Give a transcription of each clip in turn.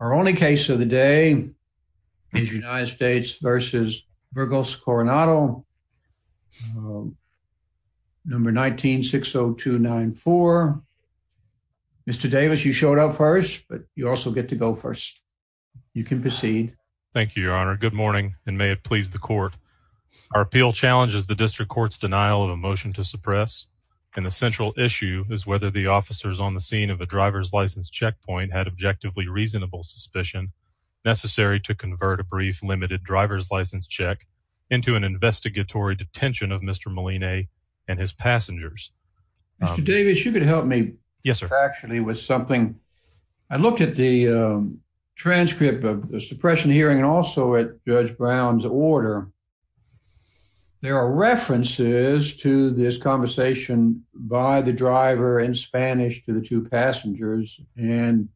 Our only case of the day is United States v. Burgos-Coronado, number 19-60294. Mr. Davis, you showed up first, but you also get to go first. You can proceed. Thank you, Your Honor. Good morning, and may it please the court. Our appeal challenges the district court's denial of a motion to suppress, and the central issue is whether the officers on the scene of the driver's license checkpoint had objectively reasonable suspicion necessary to convert a brief limited driver's license check into an investigatory detention of Mr. Molina and his passengers. Mr. Davis, you could help me factually with something. I looked at the transcript of the suppression hearing and also at Judge Brown's order. There are references to this conversation by the driver in Spanish to the two passengers, and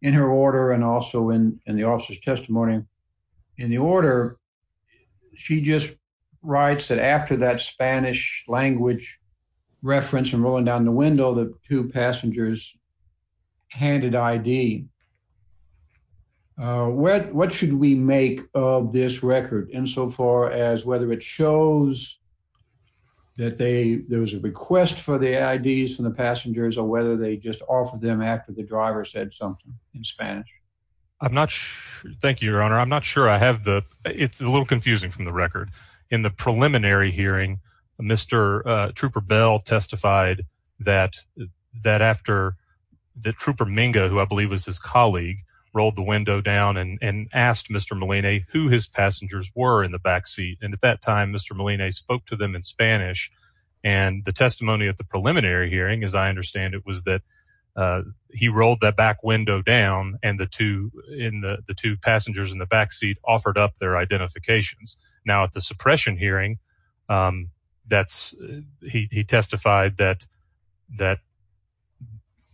in her order and also in the officer's testimony in the order, she just writes that after that Spanish language reference and rolling down the window, the two passengers handed ID. What should we make of this record insofar as whether it shows that there was a request for the IDs from the passengers or whether they just offered them after the driver said something in Spanish? I'm not sure. Thank you, Your Honor. I'm not sure I have the it's a little confusing from the record. In the preliminary hearing, Mr. Trooper Bell testified that that after the trooper Minga, who I believe was his colleague, rolled the window down and asked Mr. Molina who his passengers were in the backseat. And at that time, Mr. Molina spoke to them in Spanish. And the testimony at the preliminary hearing, as I understand it, was that he rolled that back window down. And the two in the two passengers in the backseat offered up their identifications. Now, at the suppression hearing, that's he testified that that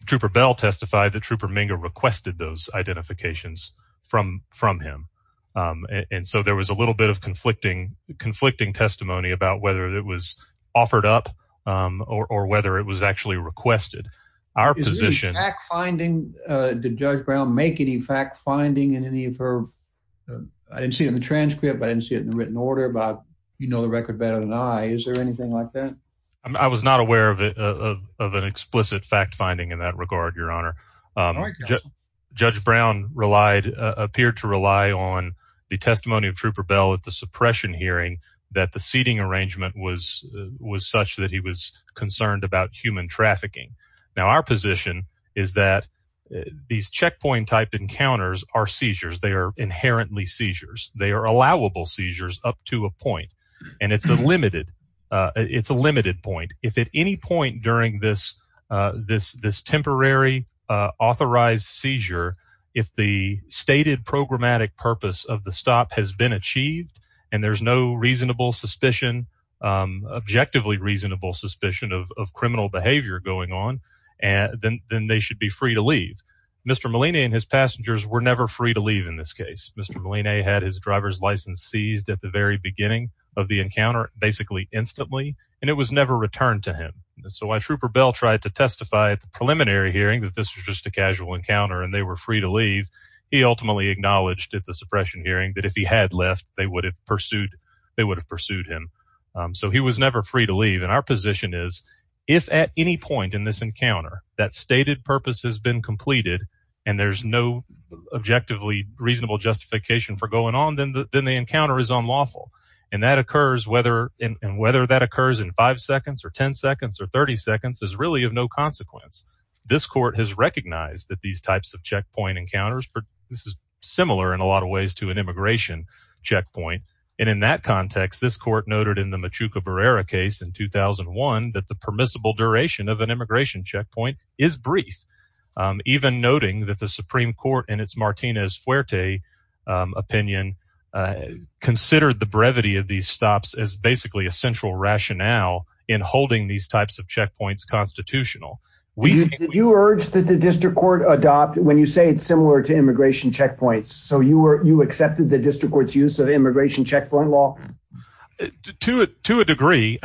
Trooper Bell testified. The trooper Minga requested those identifications from from him. And so there was a little bit of conflicting conflicting testimony about whether it was offered up or whether it was actually requested. Our position finding the judge Brown make any fact finding in any of her. I didn't see in the transcript. I didn't see it in the written order. But, you know, the record better than I. Is there anything like that? I was not aware of it, of an explicit fact finding in that regard. Your Honor, Judge Brown relied appeared to rely on the testimony of Trooper Bell at the suppression hearing that the seating arrangement was was such that he was concerned about human trafficking. Now, our position is that these checkpoint type encounters are seizures. They are inherently seizures. They are allowable seizures up to a point. And it's a limited it's a limited point. If at any point during this, this this temporary authorized seizure, if the stated programmatic purpose of the stop has been achieved and there's no reasonable suspicion, objectively reasonable suspicion of criminal behavior going on. And then then they should be free to leave. Mr. Molina and his passengers were never free to leave. In this case, Mr. Molina had his driver's license seized at the very beginning of the encounter, basically instantly. And it was never returned to him. So I Trooper Bell tried to testify at the preliminary hearing that this was just a casual encounter and they were free to leave. He ultimately acknowledged at the suppression hearing that if he had left, they would have pursued they would have pursued him. So he was never free to leave. And our position is, if at any point in this encounter that stated purpose has been completed and there's no objectively reasonable justification for going on, then the encounter is unlawful. And that occurs whether and whether that occurs in five seconds or 10 seconds or 30 seconds is really of no consequence. This court has recognized that these types of checkpoint encounters. This is similar in a lot of ways to an immigration checkpoint. And in that context, this court noted in the Machuca Barrera case in 2001 that the permissible duration of an immigration checkpoint is brief, even noting that the Supreme Court and its Martinez fuerte opinion considered the brevity of these stops as basically a central rationale in holding these types of checkpoints constitutional. We urge that the district court adopt when you say it's similar to immigration checkpoints. So you were you accepted the district court's use of immigration checkpoint law to it to a degree.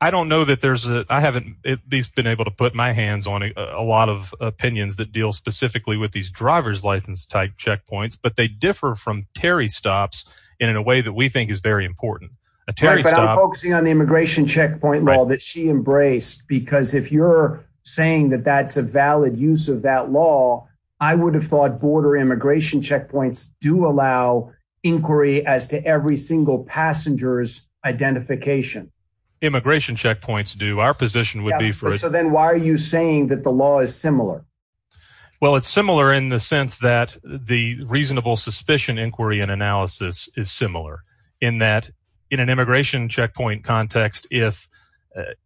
I don't know that there's a I haven't been able to put my hands on a lot of opinions that deal specifically with these driver's license type checkpoints, but they differ from Terry stops in a way that we think is very important. But I'm focusing on the immigration checkpoint law that she embraced, because if you're saying that that's a valid use of that law, I would have thought border immigration checkpoints do allow inquiry as to every single passenger's identification. Immigration checkpoints do our position would be for. So then why are you saying that the law is similar? Well, it's similar in the sense that the reasonable suspicion inquiry and analysis is similar in that in an immigration checkpoint context, if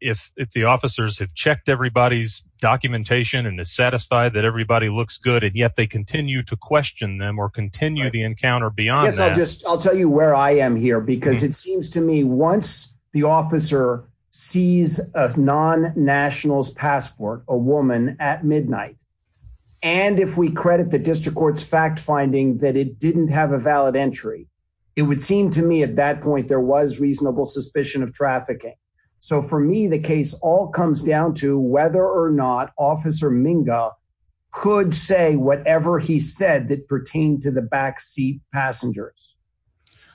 if if the officers have checked everybody's documentation and is satisfied that everybody looks good. Yet they continue to question them or continue the encounter beyond. I'll tell you where I am here because it seems to me once the officer sees a non nationals passport, a woman at midnight. And if we credit the district court's fact finding that it didn't have a valid entry, it would seem to me at that point there was reasonable suspicion of trafficking. So for me, the case all comes down to whether or not Officer Minga could say whatever he said that pertained to the backseat passengers.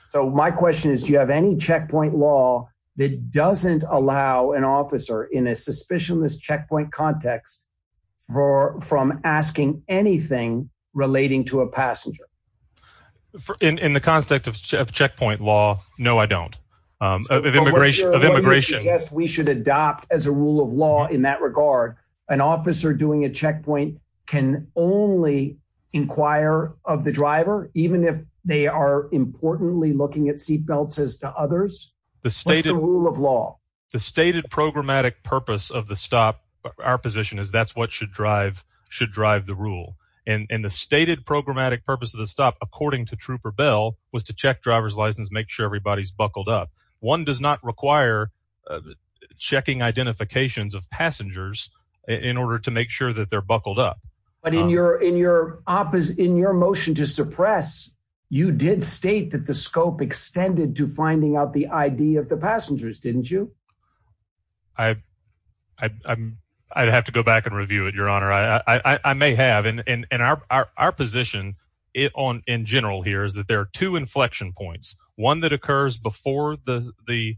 So my question is, do you have any checkpoint law that doesn't allow an officer in a suspicionless checkpoint context for from asking anything relating to a passenger? In the context of checkpoint law. No, I don't. Immigration of immigration. Yes, we should adopt as a rule of law in that regard. An officer doing a checkpoint can only inquire of the driver, even if they are importantly looking at seatbelts as to others. The state rule of law, the stated programmatic purpose of the stop. Our position is that's what should drive should drive the rule. And the stated programmatic purpose of the stop, according to Trooper Bell, was to check driver's license, make sure everybody's buckled up. One does not require checking identifications of passengers in order to make sure that they're buckled up. But in your in your office, in your motion to suppress, you did state that the scope extended to finding out the ID of the passengers, didn't you? I I'd have to go back and review it, Your Honor. I may have in our position on in general here is that there are two inflection points. One that occurs before the the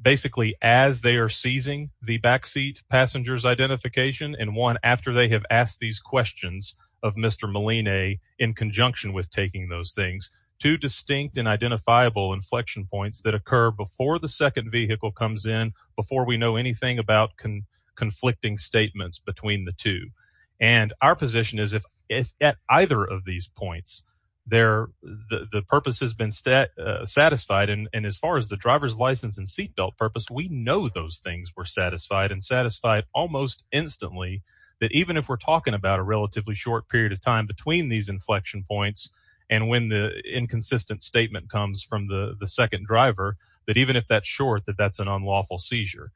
basically as they are seizing the backseat passengers identification and one after they have asked these questions of Mr. Molina in conjunction with taking those things to distinct and identifiable inflection points that occur before the second vehicle comes in. Before we know anything about conflicting statements between the two. And our position is if if at either of these points there the purpose has been set satisfied and as far as the driver's license and seat belt purpose, we know those things were satisfied and satisfied almost instantly that even if we're talking about a relatively short period of time between these inflection points and when the inconsistent statement comes from the second driver, that even if that's short, that that's an unlawful seizure.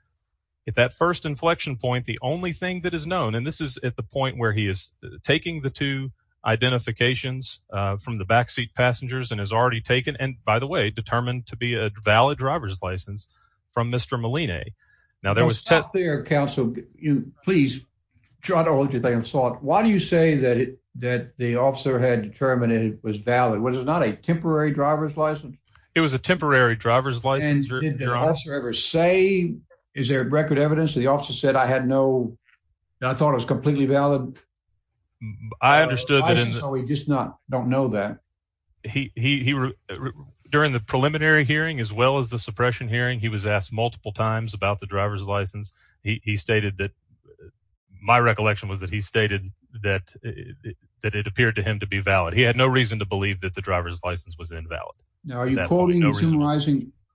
If that first inflection point, the only thing that is known, and this is at the point where he is taking the two identifications from the backseat passengers and has already taken. And by the way, determined to be a valid driver's license from Mr. Molina. Now, there was their counsel. You please try to look at that and thought, why do you say that that the officer had determined it was valid? Was it not a temporary driver's license? It was a temporary driver's license. Did the officer ever say, is there record evidence? The officer said, I had no, I thought it was completely valid. I understood that. We just not don't know that. He he during the preliminary hearing, as well as the suppression hearing, he was asked multiple times about the driver's license. He stated that my recollection was that he stated that that it appeared to him to be valid. He had no reason to believe that the driver's license was invalid. Now, are you quoting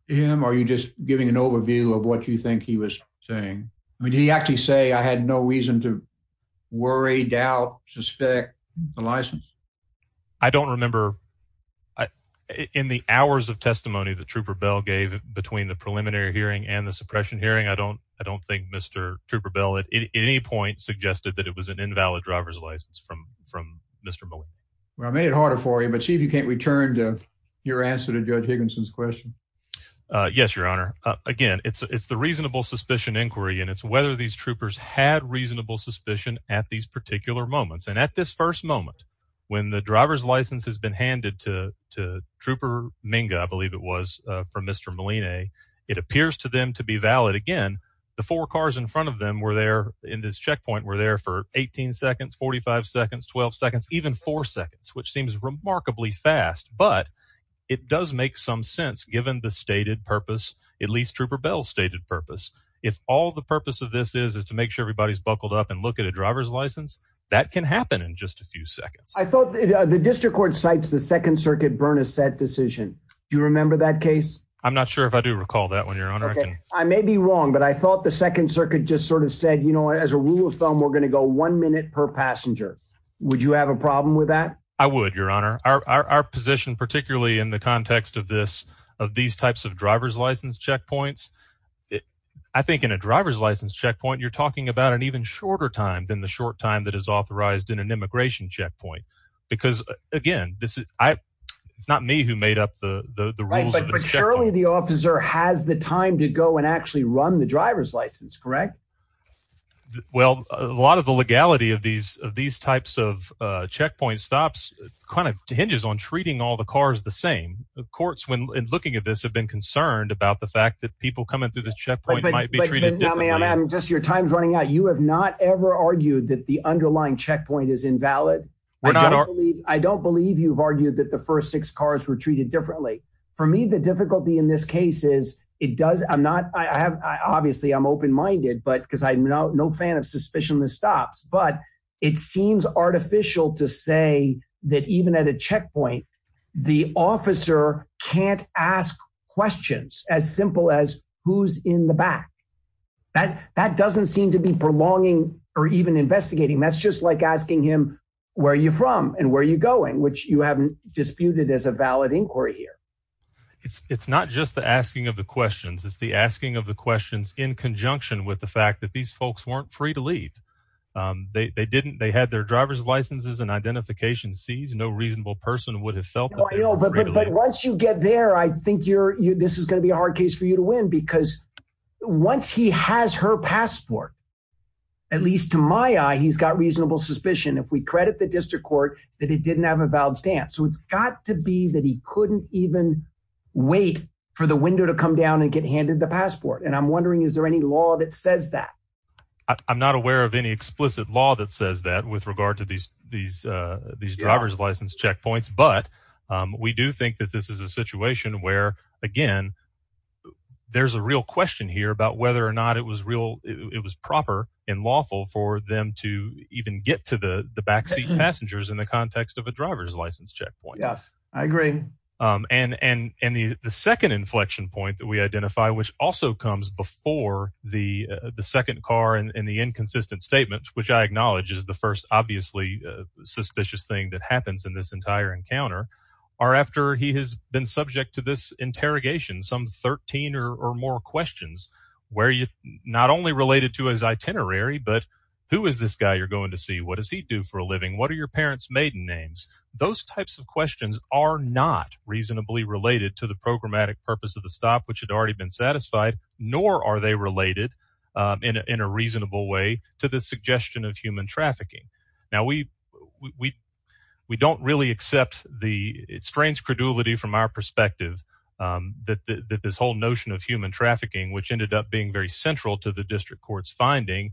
him or are you just giving an overview of what you think he was saying? I mean, did he actually say I had no reason to worry, doubt, suspect the license? I don't remember. In the hours of testimony, the trooper bell gave between the preliminary hearing and the suppression hearing, I don't I don't think Mr. Trooper Bell at any point suggested that it was an invalid driver's license from from Mr. Well, I made it harder for you, but see if you can't return to your answer to Judge Higginson's question. Yes, Your Honor. Again, it's it's the reasonable suspicion inquiry, and it's whether these troopers had reasonable suspicion at these particular moments. And at this first moment, when the driver's license has been handed to Trooper Minga, I believe it was from Mr. Molina, it appears to them to be valid. Again, the four cars in front of them were there in this checkpoint were there for 18 seconds, 45 seconds, 12 seconds, even four seconds, which seems remarkably fast. But it does make some sense, given the stated purpose, at least Trooper Bell's stated purpose. If all the purpose of this is, is to make sure everybody's buckled up and look at a driver's license that can happen in just a few seconds. I thought the district court cites the Second Circuit burn a set decision. Do you remember that case? I may be wrong, but I thought the Second Circuit just sort of said, you know, as a rule of thumb, we're going to go one minute per passenger. Would you have a problem with that? I would, Your Honor. Our position, particularly in the context of this, of these types of driver's license checkpoints. I think in a driver's license checkpoint, you're talking about an even shorter time than the short time that is authorized in an immigration checkpoint. Because, again, this is not me who made up the rules. Surely the officer has the time to go and actually run the driver's license, correct? Well, a lot of the legality of these of these types of checkpoint stops kind of hinges on treating all the cars the same. The courts, when looking at this, have been concerned about the fact that people coming through the checkpoint might be treated differently. I'm just your time's running out. You have not ever argued that the underlying checkpoint is invalid. I don't believe I don't believe you've argued that the first six cars were treated differently. For me, the difficulty in this case is it does. I'm not I have. Obviously, I'm open minded, but because I'm not no fan of suspicion, this stops. But it seems artificial to say that even at a checkpoint, the officer can't ask questions as simple as who's in the back. That doesn't seem to be prolonging or even investigating. That's just like asking him, where are you from and where are you going? Which you haven't disputed as a valid inquiry here. It's not just the asking of the questions. It's the asking of the questions in conjunction with the fact that these folks weren't free to leave. They didn't. They had their driver's licenses and identification. Sees no reasonable person would have felt. But once you get there, I think you're this is going to be a hard case for you to win, because once he has her passport, at least to my eye, he's got reasonable suspicion. If we credit the district court that it didn't have a valid stamp. So it's got to be that he couldn't even wait for the window to come down and get handed the passport. And I'm wondering, is there any law that says that I'm not aware of any explicit law that says that with regard to these these these driver's license checkpoints? But we do think that this is a situation where, again, there's a real question here about whether or not it was real. It was proper and lawful for them to even get to the backseat passengers in the context of a driver's license checkpoint. Yes, I agree. And the second inflection point that we identify, which also comes before the the second car and the inconsistent statements, which I acknowledge is the first obviously suspicious thing that happens in this entire encounter, are after he has been subject to this interrogation, some 13 or more questions where you not only related to his itinerary, but who is this guy you're going to see? What does he do for a living? What are your parents maiden names? Those types of questions are not reasonably related to the programmatic purpose of the stop, which had already been satisfied, nor are they related in a reasonable way to the suggestion of human trafficking. Now, we we we don't really accept the strange credulity from our perspective that this whole notion of human trafficking, which ended up being very central to the district court's finding,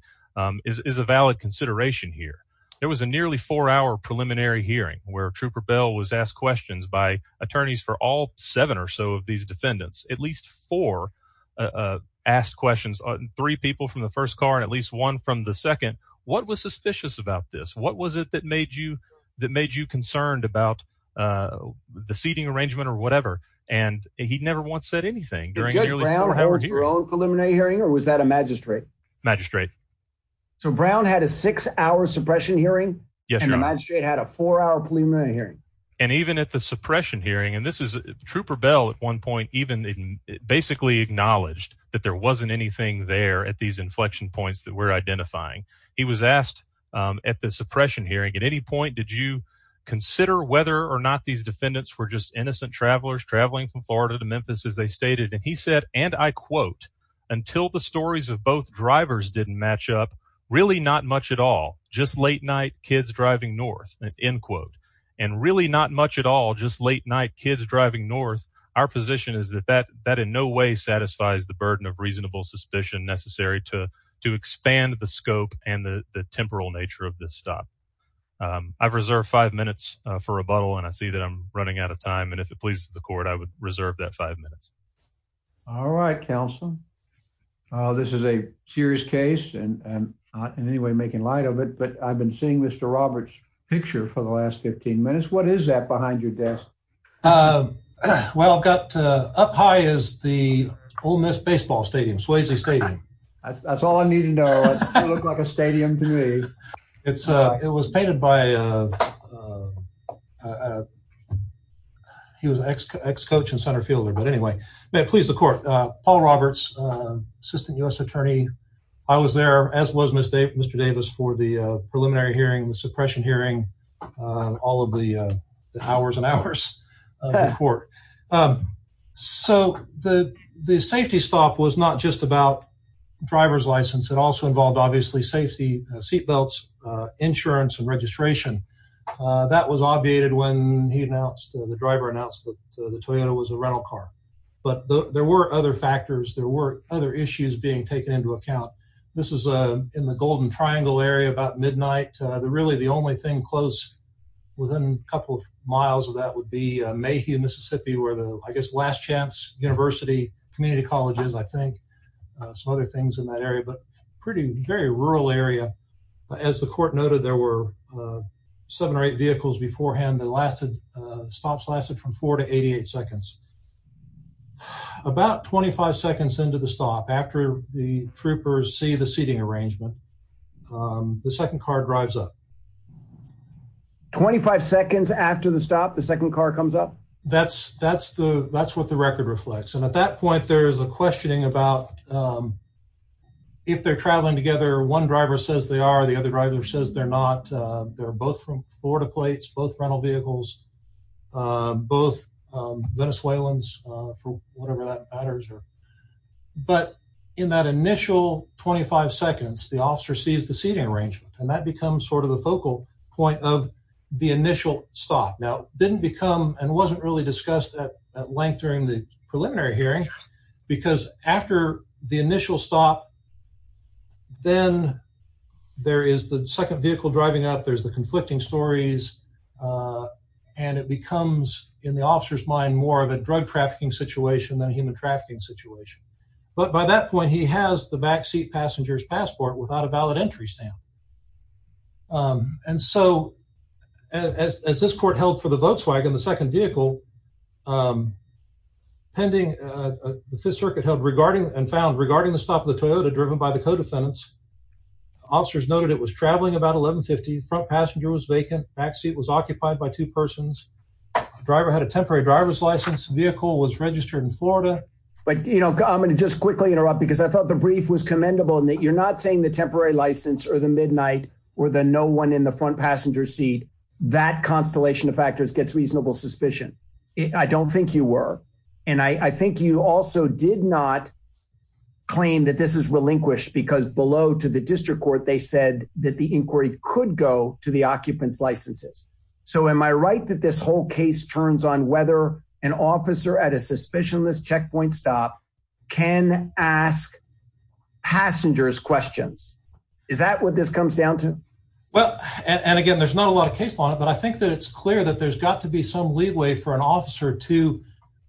is a valid consideration here. There was a nearly four hour preliminary hearing where Trooper Bell was asked questions by attorneys for all seven or so of these defendants, at least four asked questions, three people from the first car and at least one from the second. What was suspicious about this? What was it that made you that made you concerned about the seating arrangement or whatever? And he never once said anything during the preliminary hearing. Or was that a magistrate magistrate? So Brown had a six hour suppression hearing and the magistrate had a four hour preliminary hearing. And even at the suppression hearing, and this is Trooper Bell at one point, even basically acknowledged that there wasn't anything there at these inflection points that we're identifying. He was asked at the suppression hearing at any point. Did you consider whether or not these defendants were just innocent travelers traveling from Florida to Memphis, as they stated? And he said, and I quote, until the stories of both drivers didn't match up, really not much at all. Just late night kids driving north, end quote, and really not much at all. Just late night kids driving north. Our position is that that that in no way satisfies the burden of reasonable suspicion necessary to to expand the scope and the temporal nature of this stop. I've reserved five minutes for rebuttal and I see that I'm running out of time. And if it pleases the court, I would reserve that five minutes. All right, counsel. This is a serious case and not in any way making light of it. But I've been seeing Mr. Roberts picture for the last 15 minutes. What is that behind your desk? Well, I've got up high is the Ole Miss baseball stadium, Swayze Stadium. That's all I need to know. Looks like a stadium to me. It's it was painted by. He was an ex ex coach and center fielder. But anyway, please, the court, Paul Roberts, assistant U.S. attorney. I was there as was Mr. Davis for the preliminary hearing, the suppression hearing, all of the hours and hours before. So the the safety stop was not just about driver's license. It also involved, obviously, safety seatbelts, insurance and registration. That was obviated when he announced the driver announced that the Toyota was a rental car. But there were other factors. There were other issues being taken into account. This is in the Golden Triangle area about midnight. The really the only thing close within a couple of miles of that would be Mayhew, Mississippi, where the I guess last chance university community colleges, I think. Some other things in that area, but pretty very rural area. As the court noted, there were seven or eight vehicles beforehand that lasted stops lasted from four to 88 seconds. About 25 seconds into the stop after the troopers see the seating arrangement, the second car drives up. Twenty five seconds after the stop, the second car comes up. That's that's the that's what the record reflects. And at that point, there is a questioning about if they're traveling together. One driver says they are. The other driver says they're not. They're both from Florida plates, both rental vehicles, both Venezuelans, whatever that matters. But in that initial twenty five seconds, the officer sees the seating arrangement and that becomes sort of the focal point of the initial stop. Now, didn't become and wasn't really discussed at length during the preliminary hearing because after the initial stop. Then there is the second vehicle driving up. There's the conflicting stories. And it becomes in the officer's mind more of a drug trafficking situation than human trafficking situation. But by that point, he has the backseat passengers passport without a valid entry stamp. And so as this court held for the Volkswagen, the second vehicle pending the Fifth Circuit held regarding and found regarding the stop of the Toyota driven by the co-defendants. Officers noted it was traveling about eleven fifty. Front passenger was vacant. Backseat was occupied by two persons. The driver had a temporary driver's license. Vehicle was registered in Florida. But, you know, I'm going to just quickly interrupt because I thought the brief was commendable and that you're not saying the temporary license or the midnight or the no one in the front passenger seat. That constellation of factors gets reasonable suspicion. I don't think you were. And I think you also did not claim that this is relinquished because below to the district court, they said that the inquiry could go to the occupants licenses. So am I right that this whole case turns on whether an officer at a suspicionless checkpoint stop can ask passengers questions? Is that what this comes down to? Well, and again, there's not a lot of case on it. But I think that it's clear that there's got to be some leeway for an officer to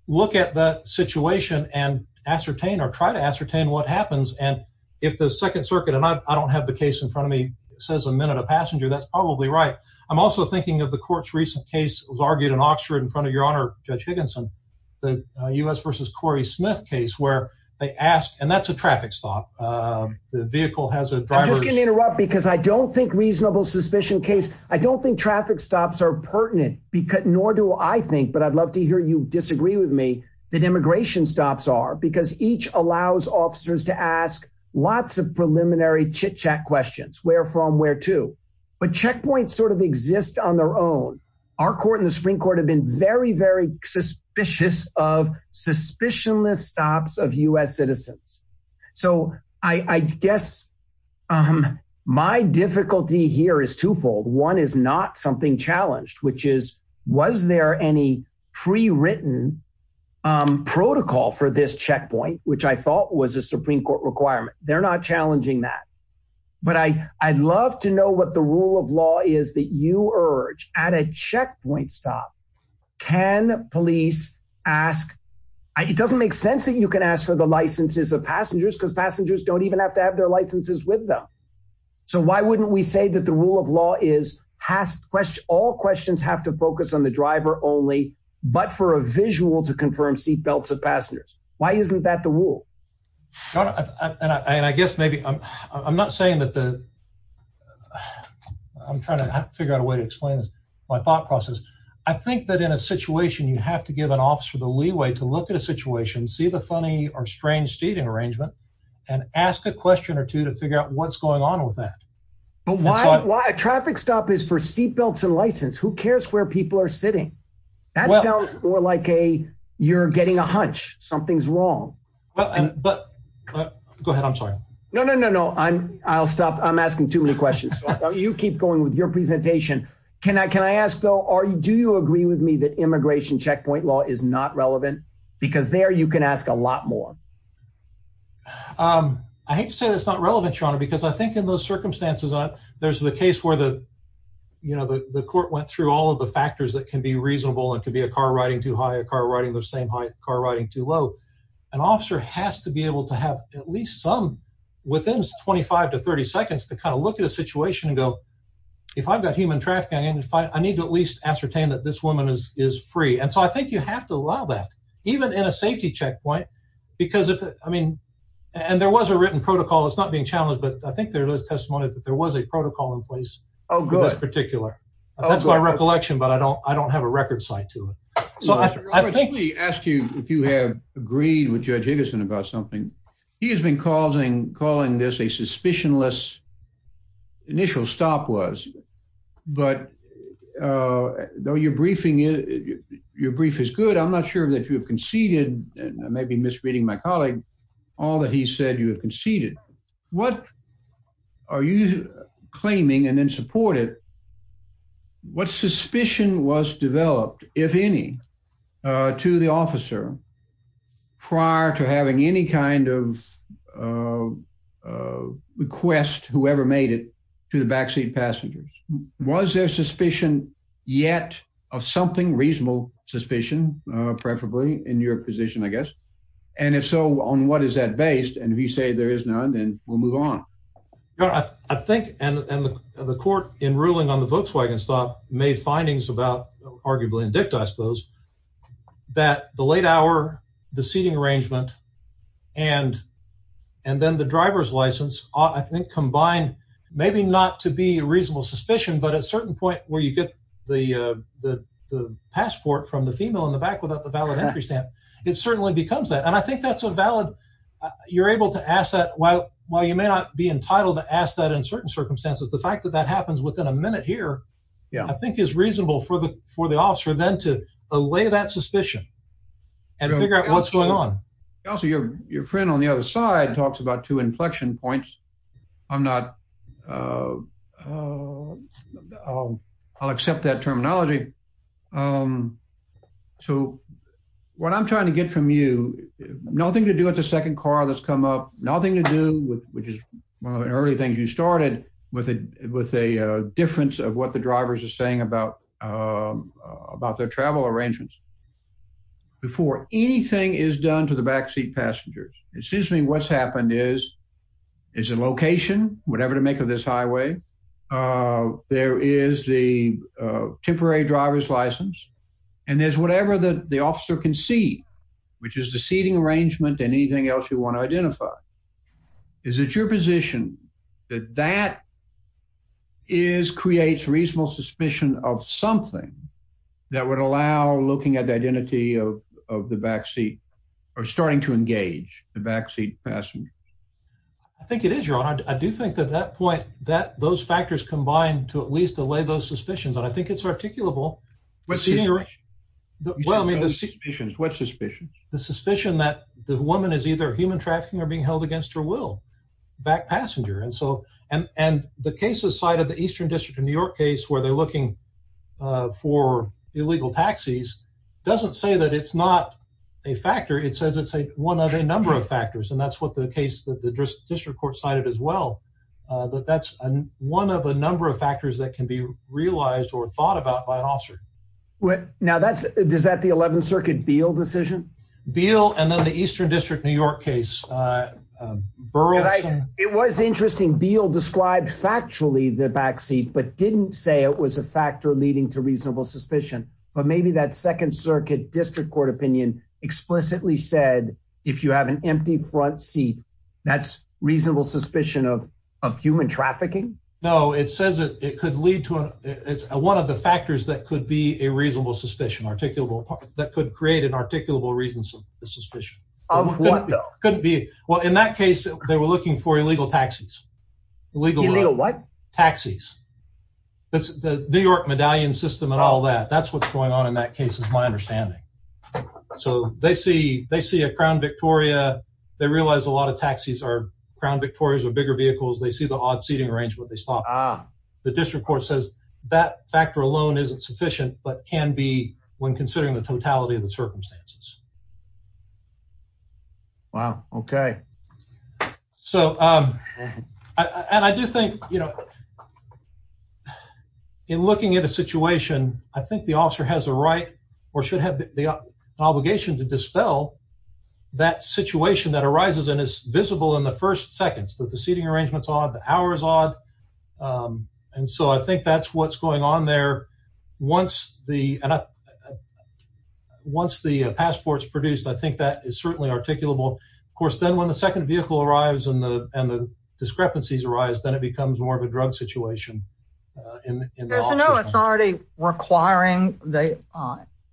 look at the situation and ascertain or try to ascertain what happens. And if the Second Circuit and I don't have the case in front of me says a minute, a passenger, that's probably right. I'm also thinking of the court's recent case was argued in Oxford in front of your honor. Judge Higginson, the U.S. versus Corey Smith case where they asked. And that's a traffic stop. The vehicle has a driver. I'm just going to interrupt because I don't think reasonable suspicion case. I don't think traffic stops are pertinent because nor do I think. But I'd love to hear you disagree with me that immigration stops are because each allows officers to ask lots of preliminary chit chat questions. Where from, where to. But checkpoints sort of exist on their own. Our court in the Supreme Court have been very, very suspicious of suspicionless stops of U.S. citizens. So I guess my difficulty here is twofold. One is not something challenged, which is was there any prewritten protocol for this checkpoint, which I thought was a Supreme Court requirement? They're not challenging that. But I I'd love to know what the rule of law is that you urge at a checkpoint stop. Can police ask? It doesn't make sense that you can ask for the licenses of passengers because passengers don't even have to have their licenses with them. So why wouldn't we say that the rule of law is passed? All questions have to focus on the driver only, but for a visual to confirm seatbelts of passengers. Why isn't that the rule? And I guess maybe I'm not saying that the. I'm trying to figure out a way to explain my thought process. I think that in a situation you have to give an officer the leeway to look at a situation, see the funny or strange seating arrangement and ask a question or two to figure out what's going on with that. Traffic stop is for seatbelts and license. Who cares where people are sitting? That sounds more like a you're getting a hunch. Something's wrong. But go ahead. I'm sorry. No, no, no, no. I'm I'll stop. I'm asking too many questions. You keep going with your presentation. Can I can I ask, though, are you do you agree with me that immigration checkpoint law is not relevant because there you can ask a lot more? I hate to say that's not relevant, Sean, because I think in those circumstances, there's the case where the, you know, the court went through all of the factors that can be reasonable. It could be a car riding too high, a car riding the same height, car riding too low. An officer has to be able to have at least some within twenty five to thirty seconds to kind of look at a situation and go. If I've got human trafficking and if I need to at least ascertain that this woman is is free. And so I think you have to allow that even in a safety checkpoint, because, I mean, and there was a written protocol. It's not being challenged, but I think there was testimony that there was a protocol in place. Oh, good. That's particular. That's my recollection. But I don't I don't have a record site to it. So I think we ask you if you have agreed with Judge Higginson about something. He has been causing calling this a suspicionless initial stop was. But though your briefing is your brief is good. I'm not sure that you have conceded maybe misreading my colleague all that he said you have conceded. What are you claiming and then support it? What suspicion was developed, if any, to the officer prior to having any kind of request, whoever made it to the backseat passengers? Was there suspicion yet of something reasonable suspicion, preferably in your position, I guess? And if so, on what is that based? And if you say there is none, then we'll move on. I think. And the court in ruling on the Volkswagen stop made findings about arguably in dicta, I suppose, that the late hour, the seating arrangement. And and then the driver's license, I think, combined, maybe not to be a reasonable suspicion, but a certain point where you get the the passport from the female in the back without the valid entry stamp. It certainly becomes that. And I think that's a valid. You're able to ask that. Well, while you may not be entitled to ask that in certain circumstances, the fact that that happens within a minute here, I think is reasonable for the for the officer then to allay that suspicion and figure out what's going on. Also, your your friend on the other side talks about two inflection points. I'm not. I'll accept that terminology. So what I'm trying to get from you, nothing to do with the second car that's come up, nothing to do with which is one of the early things you started with it, with a difference of what the drivers are saying about about their travel arrangements. Before anything is done to the backseat passengers, it seems to me what's happened is is a location, whatever to make of this highway. There is the temporary driver's license and there's whatever the officer can see, which is the seating arrangement and anything else you want to identify. Is it your position that that is creates reasonable suspicion of something that would allow looking at the identity of of the backseat or starting to engage the backseat passenger? I think it is your honor. I do think that that point that those factors combine to at least allay those suspicions. And I think it's articulable. What's the. Well, I mean, this is what suspicion, the suspicion that the woman is either human trafficking or being held against her will back passenger. And so and the cases side of the Eastern District of New York case where they're looking for illegal taxis doesn't say that it's not a factor. It says it's a one of a number of factors. And that's what the case that the district court cited as well, that that's one of a number of factors that can be realized or thought about by an officer. Now, that's that the 11th Circuit Beale decision, Beale, and then the Eastern District, New York case. It was interesting. Beale described factually the backseat, but didn't say it was a factor leading to reasonable suspicion. But maybe that Second Circuit district court opinion explicitly said, if you have an empty front seat, that's reasonable suspicion of of human trafficking. No, it says it could lead to it's one of the factors that could be a reasonable suspicion, articulable that could create an articulable reason. So the suspicion of what could be. Well, in that case, they were looking for illegal taxis. Legal what taxis. That's the New York medallion system and all that. That's what's going on in that case is my understanding. So they see they see a Crown Victoria. They realize a lot of taxis are Crown Victorias or bigger vehicles. They see the odd seating range where they stop. The district court says that factor alone isn't sufficient, but can be when considering the totality of the circumstances. Wow. OK, so I do think, you know, in looking at a situation, I think the officer has a right or should have the obligation to dispel that situation that arises and is visible in the first seconds that the seating arrangements are the hours odd. And so I think that's what's going on there. Once the once the passports produced, I think that is certainly articulable. Of course, then when the second vehicle arrives and the and the discrepancies arise, then it becomes more of a drug situation. There's no authority requiring the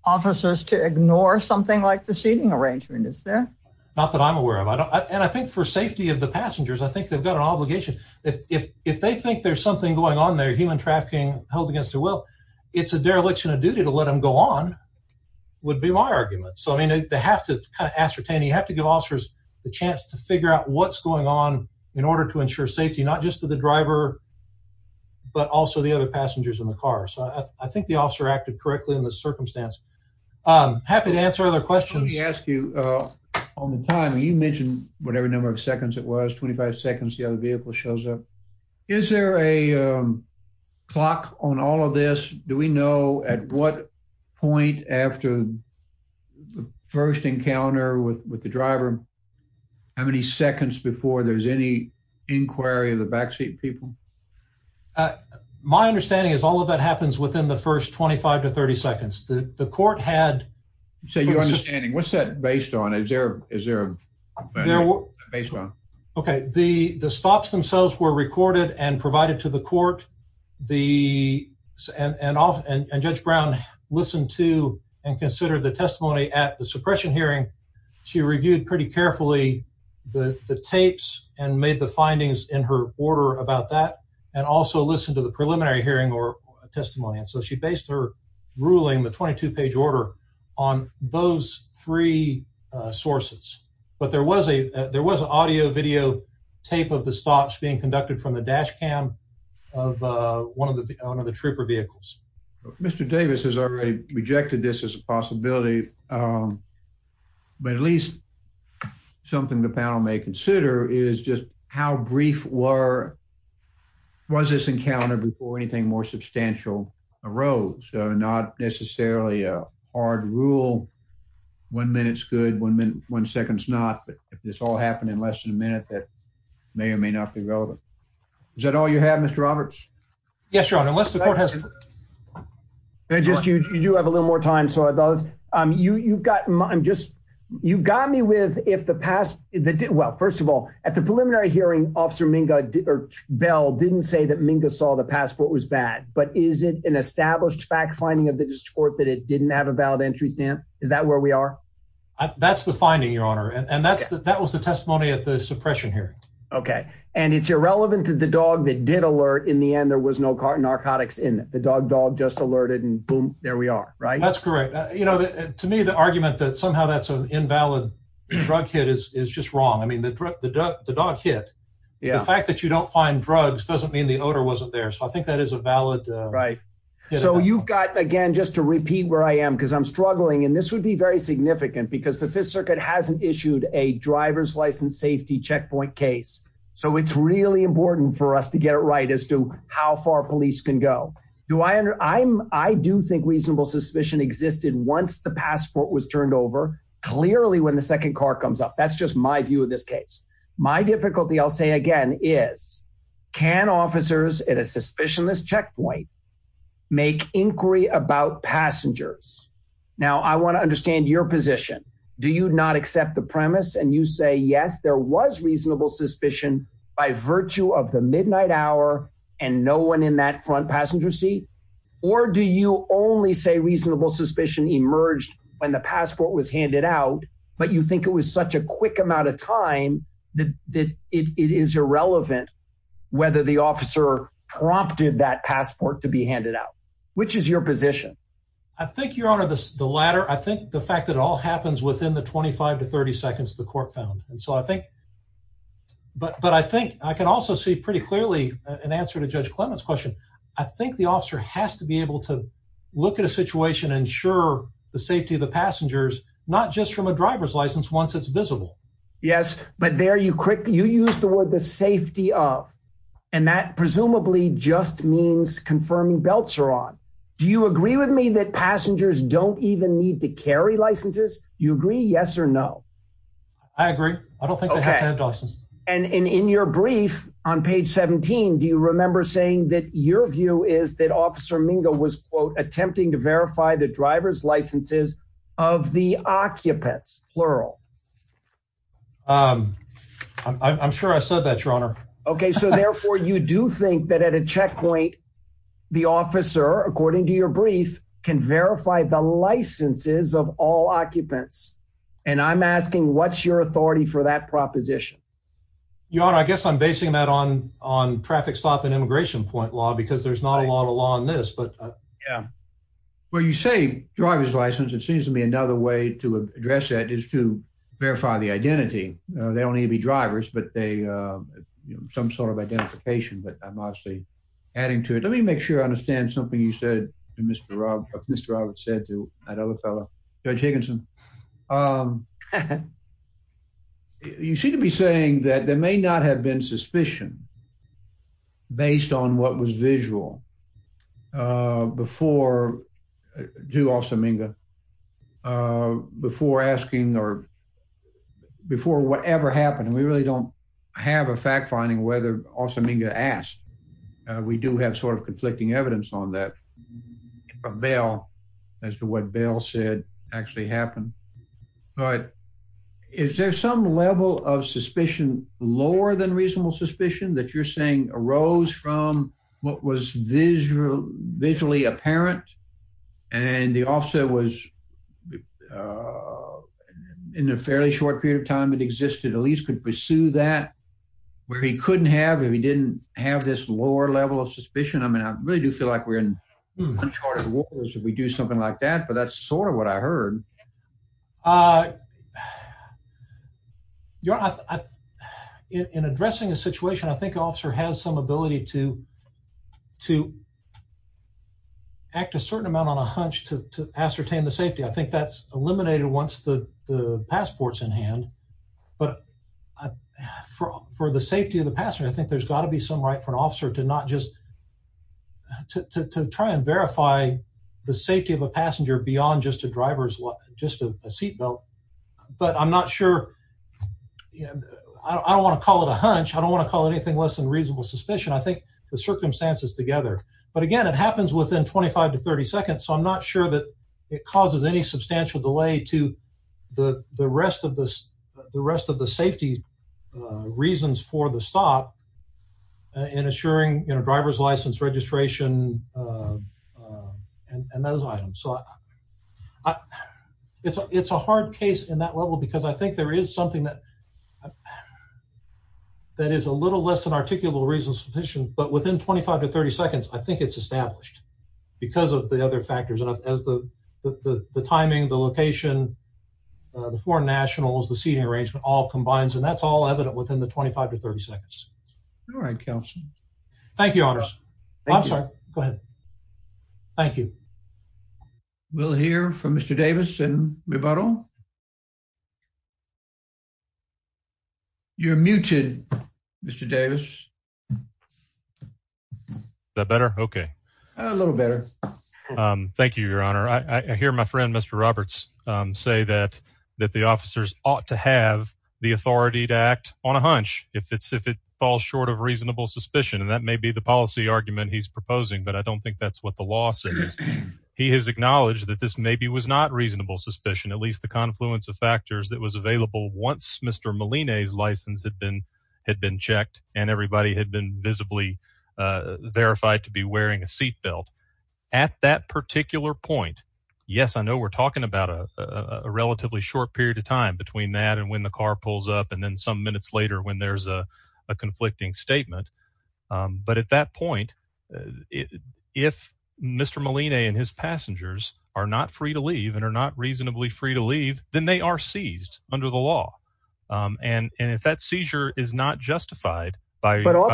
officers to ignore something like the seating arrangement is there. Not that I'm aware of. And I think for safety of the passengers, I think they've got an obligation. If they think there's something going on, they're human trafficking held against their will. It's a dereliction of duty to let them go on would be my argument. So, I mean, they have to ascertain you have to give officers the chance to figure out what's going on in order to ensure safety, not just to the driver. But also the other passengers in the car. So I think the officer acted correctly in the circumstance. I'm happy to answer other questions. Ask you on the time you mentioned whatever number of seconds it was. Twenty five seconds. The other vehicle shows up. Is there a clock on all of this? Do we know at what point after the first encounter with the driver? How many seconds before there's any inquiry of the backseat people? My understanding is all of that happens within the first twenty five to thirty seconds. The court had said your understanding. What's that based on? Is there is there based on. OK, the stops themselves were recorded and provided to the court. The and off and Judge Brown listened to and considered the testimony at the suppression hearing. She reviewed pretty carefully the tapes and made the findings in her order about that and also listened to the preliminary hearing or testimony. And so she based her ruling, the 22 page order on those three sources. But there was a there was audio video tape of the stops being conducted from the dash cam of one of the on of the trooper vehicles. Mr. Davis has already rejected this as a possibility. But at least something the panel may consider is just how brief were. Was this encounter before anything more substantial arose? Not necessarily a hard rule. One minute's good. One minute, one second's not. But if this all happened in less than a minute, that may or may not be relevant. Is that all you have, Mr. Roberts? Yes, your honor. Unless the court has. And just you do have a little more time. So I thought you've got just you've got me with if the past. Well, first of all, at the preliminary hearing, Officer Minga Bell didn't say that Minga saw the passport was bad. But is it an established fact finding of the court that it didn't have a valid entry stamp? Is that where we are? That's the finding, your honor. And that's that was the testimony at the suppression here. OK. And it's irrelevant to the dog that did alert. In the end, there was no car narcotics in the dog. Dog just alerted. And boom, there we are. Right. That's correct. You know, to me, the argument that somehow that's an invalid drug hit is is just wrong. I mean, the drug, the dog hit. Yeah. The fact that you don't find drugs doesn't mean the odor wasn't there. So I think that is a valid. Right. So you've got, again, just to repeat where I am, because I'm struggling. And this would be very significant because the Fifth Circuit hasn't issued a driver's license safety checkpoint case. So it's really important for us to get it right as to how far police can go. Do I under I'm I do think reasonable suspicion existed once the passport was turned over. Clearly, when the second car comes up, that's just my view of this case. My difficulty, I'll say again, is can officers at a suspicionless checkpoint make inquiry about passengers? Now, I want to understand your position. Do you not accept the premise? And you say, yes, there was reasonable suspicion by virtue of the midnight hour and no one in that front passenger seat. Or do you only say reasonable suspicion emerged when the passport was handed out? But you think it was such a quick amount of time that it is irrelevant whether the officer prompted that passport to be handed out. Which is your position? I think you're on the ladder. I think the fact that it all happens within the 25 to 30 seconds the court found. And so I think but but I think I can also see pretty clearly an answer to Judge Clement's question. I think the officer has to be able to look at a situation, ensure the safety of the passengers, not just from a driver's license once it's visible. Yes. But there you quickly you use the word the safety of. And that presumably just means confirming belts are on. Do you agree with me that passengers don't even need to carry licenses? You agree? Yes or no? I agree. I don't think they have to have licenses. And in your brief on page 17, do you remember saying that your view is that Officer Mingo was, quote, the driver's licenses of the occupants, plural. I'm sure I said that, Your Honor. OK, so therefore, you do think that at a checkpoint, the officer, according to your brief, can verify the licenses of all occupants. And I'm asking what's your authority for that proposition? Your Honor, I guess I'm basing that on on traffic stop and immigration point law because there's not a lot of law on this. But, yeah, well, you say driver's license. It seems to me another way to address that is to verify the identity. They don't need to be drivers, but they some sort of identification. But I'm obviously adding to it. Let me make sure I understand something you said. Mr. Rob, Mr. Roberts said to that other fellow, Judge Higginson. You seem to be saying that there may not have been suspicion. Based on what was visual before, do Officer Mingo before asking or before whatever happened, we really don't have a fact finding whether Officer Mingo asked. We do have sort of conflicting evidence on that from Bail as to what Bail said actually happened. But is there some level of suspicion lower than reasonable suspicion that you're saying arose from what was visually apparent? And the officer was in a fairly short period of time. It existed, at least could pursue that where he couldn't have if he didn't have this lower level of suspicion. I mean, I really do feel like we're in uncharted waters if we do something like that. But that's sort of what I heard. In addressing a situation, I think the officer has some ability to act a certain amount on a hunch to ascertain the safety. I think that's eliminated once the passport's in hand. But for the safety of the passenger, I think there's got to be some right for an officer to not just to try and verify the safety of a passenger beyond just a driver's seat belt. But I'm not sure. I don't want to call it a hunch. I don't want to call it anything less than reasonable suspicion. I think the circumstances together. But again, it happens within 25 to 30 seconds, so I'm not sure that it causes any substantial delay to the rest of the safety reasons for the stop in assuring driver's license registration and those items. So it's a hard case in that level because I think there is something that is a little less than articulable reasonable suspicion. But within 25 to 30 seconds, I think it's established because of the other factors. The timing, the location, the foreign nationals, the seating arrangement all combines, and that's all evident within the 25 to 30 seconds. All right. Thank you. I'm sorry. Go ahead. Thank you. We'll hear from Mr. Davis and rebuttal. You're muted, Mr. Davis. The better. Okay. A little better. Thank you, Your Honor. I hear my friend, Mr. Roberts, say that the officers ought to have the authority to act on a hunch if it falls short of reasonable suspicion. And that may be the policy argument he's proposing, but I don't think that's what the law says. He has acknowledged that this maybe was not reasonable suspicion, at least the confluence of factors that was available once Mr. Molina's license had been checked and everybody had been visibly verified to be wearing a seat belt. At that particular point, yes, I know we're talking about a relatively short period of time between that and when the car pulls up and then some minutes later when there's a conflicting statement. But at that point, if Mr. Molina and his passengers are not free to leave and are not reasonably free to leave, then they are seized under the law. And if that seizure is not justified by all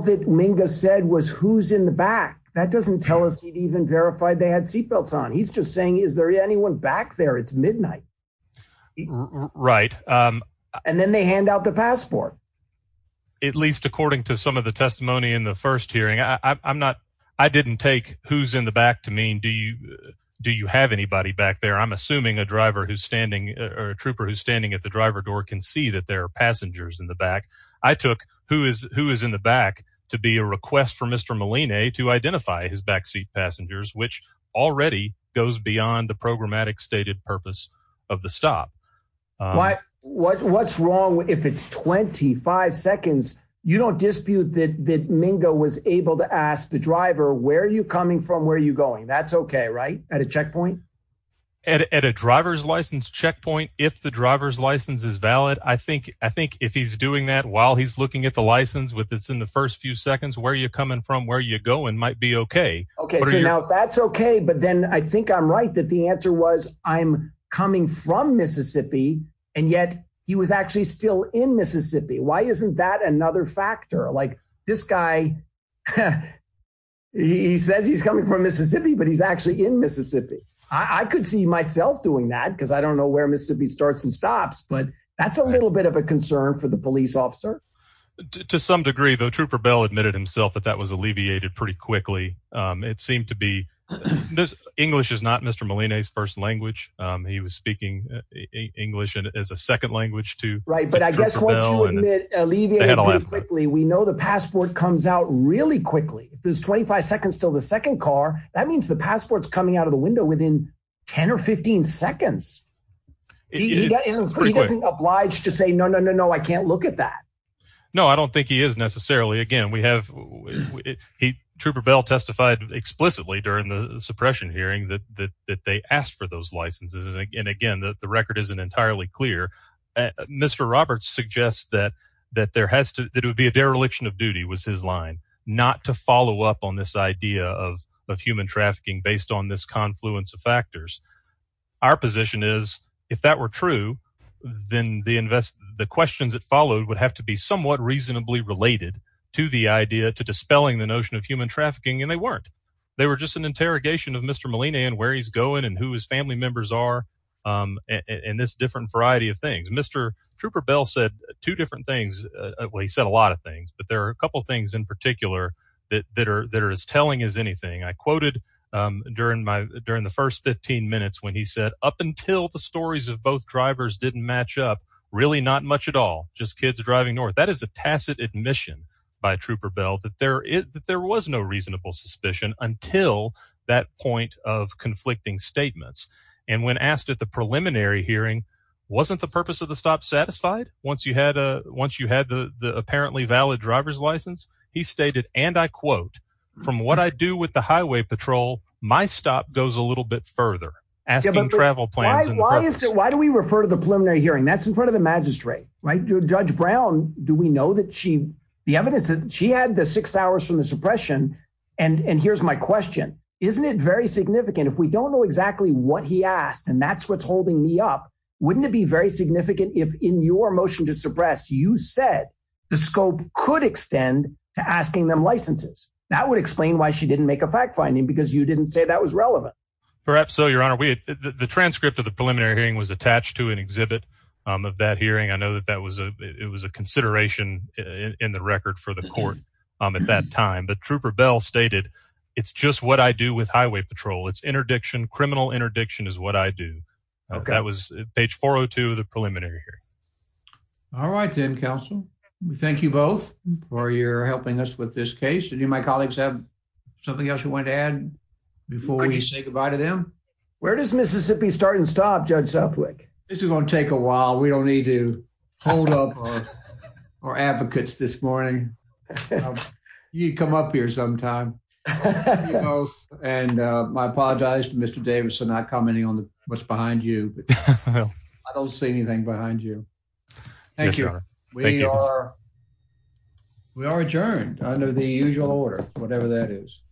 that Mingus said was who's in the back, that doesn't tell us he'd even verified they had seat belts on. He's just saying, is there anyone back there? It's midnight. Right. And then they hand out the passport. At least according to some of the testimony in the first hearing, I'm not I didn't take who's in the back to mean do you do you have anybody back there? I'm assuming a driver who's standing or a trooper who's standing at the driver door can see that there are passengers in the back. I took who is who is in the back to be a request for Mr. Molina to identify his backseat passengers, which already goes beyond the programmatic stated purpose of the stop. What's wrong if it's twenty five seconds? You don't dispute that Mingus was able to ask the driver where are you coming from? Where are you going? That's OK. Right. At a checkpoint at a driver's license checkpoint, if the driver's license is valid, I think I think if he's doing that while he's looking at the license with this in the first few seconds, where are you coming from? Where are you going? Might be OK. OK, so now that's OK. But then I think I'm right that the answer was I'm coming from Mississippi and yet he was actually still in Mississippi. Why isn't that another factor like this guy? He says he's coming from Mississippi, but he's actually in Mississippi. I could see myself doing that because I don't know where Mississippi starts and stops. But that's a little bit of a concern for the police officer. To some degree, though, Trooper Bell admitted himself that that was alleviated pretty quickly. It seemed to be this English is not Mr. Molina's first language. He was speaking English as a second language to. Right. But I guess what you would mean alleviated quickly. We know the passport comes out really quickly. There's twenty five seconds till the second car. That means the passport's coming out of the window within 10 or 15 seconds. He doesn't oblige to say no, no, no, no. I can't look at that. No, I don't think he is necessarily. Again, we have it. Trooper Bell testified explicitly during the suppression hearing that that they asked for those licenses. And again, the record isn't entirely clear. Mr. Roberts suggests that that there has to be a dereliction of duty was his line not to follow up on this idea of of human trafficking based on this confluence of factors. Our position is if that were true, then the invest the questions that followed would have to be somewhat reasonably related to the idea to dispelling the notion of human trafficking. And they weren't. They were just an interrogation of Mr. Molina and where he's going and who his family members are. And this different variety of things. Mr. Trooper Bell said two different things. He said a lot of things. But there are a couple of things in particular that are that are as telling as anything. I quoted during my during the first 15 minutes when he said up until the stories of both drivers didn't match up, really not much at all. Just kids driving north. That is a tacit admission by Trooper Bell that there is that there was no reasonable suspicion until that point of conflicting statements. And when asked at the preliminary hearing, wasn't the purpose of the stop satisfied? Once you had a once you had the apparently valid driver's license, he stated, and I quote, from what I do with the highway patrol, my stop goes a little bit further. Asking travel plans. Why do we refer to the preliminary hearing? That's in front of the magistrate. Right. Judge Brown, do we know that she the evidence that she had the six hours from the suppression? And here's my question. Isn't it very significant if we don't know exactly what he asked and that's what's holding me up? Wouldn't it be very significant if in your motion to suppress, you said the scope could extend to asking them licenses? That would explain why she didn't make a fact finding, because you didn't say that was relevant. Perhaps. So, Your Honor, the transcript of the preliminary hearing was attached to an exhibit of that hearing. I know that that was a it was a consideration in the record for the court at that time. But Trooper Bell stated, it's just what I do with highway patrol. It's interdiction. Criminal interdiction is what I do. OK, that was page four or two of the preliminary here. All right. Then, counsel, we thank you both for your helping us with this case. And you, my colleagues, have something else you want to add before we say goodbye to them. Where does Mississippi start and stop? Judge Suffolk, this is going to take a while. We don't need to hold up our advocates this morning. You come up here sometime and I apologize to Mr. Davis for not commenting on what's behind you. I don't see anything behind you. Thank you. We are. We are adjourned under the usual order, whatever that is.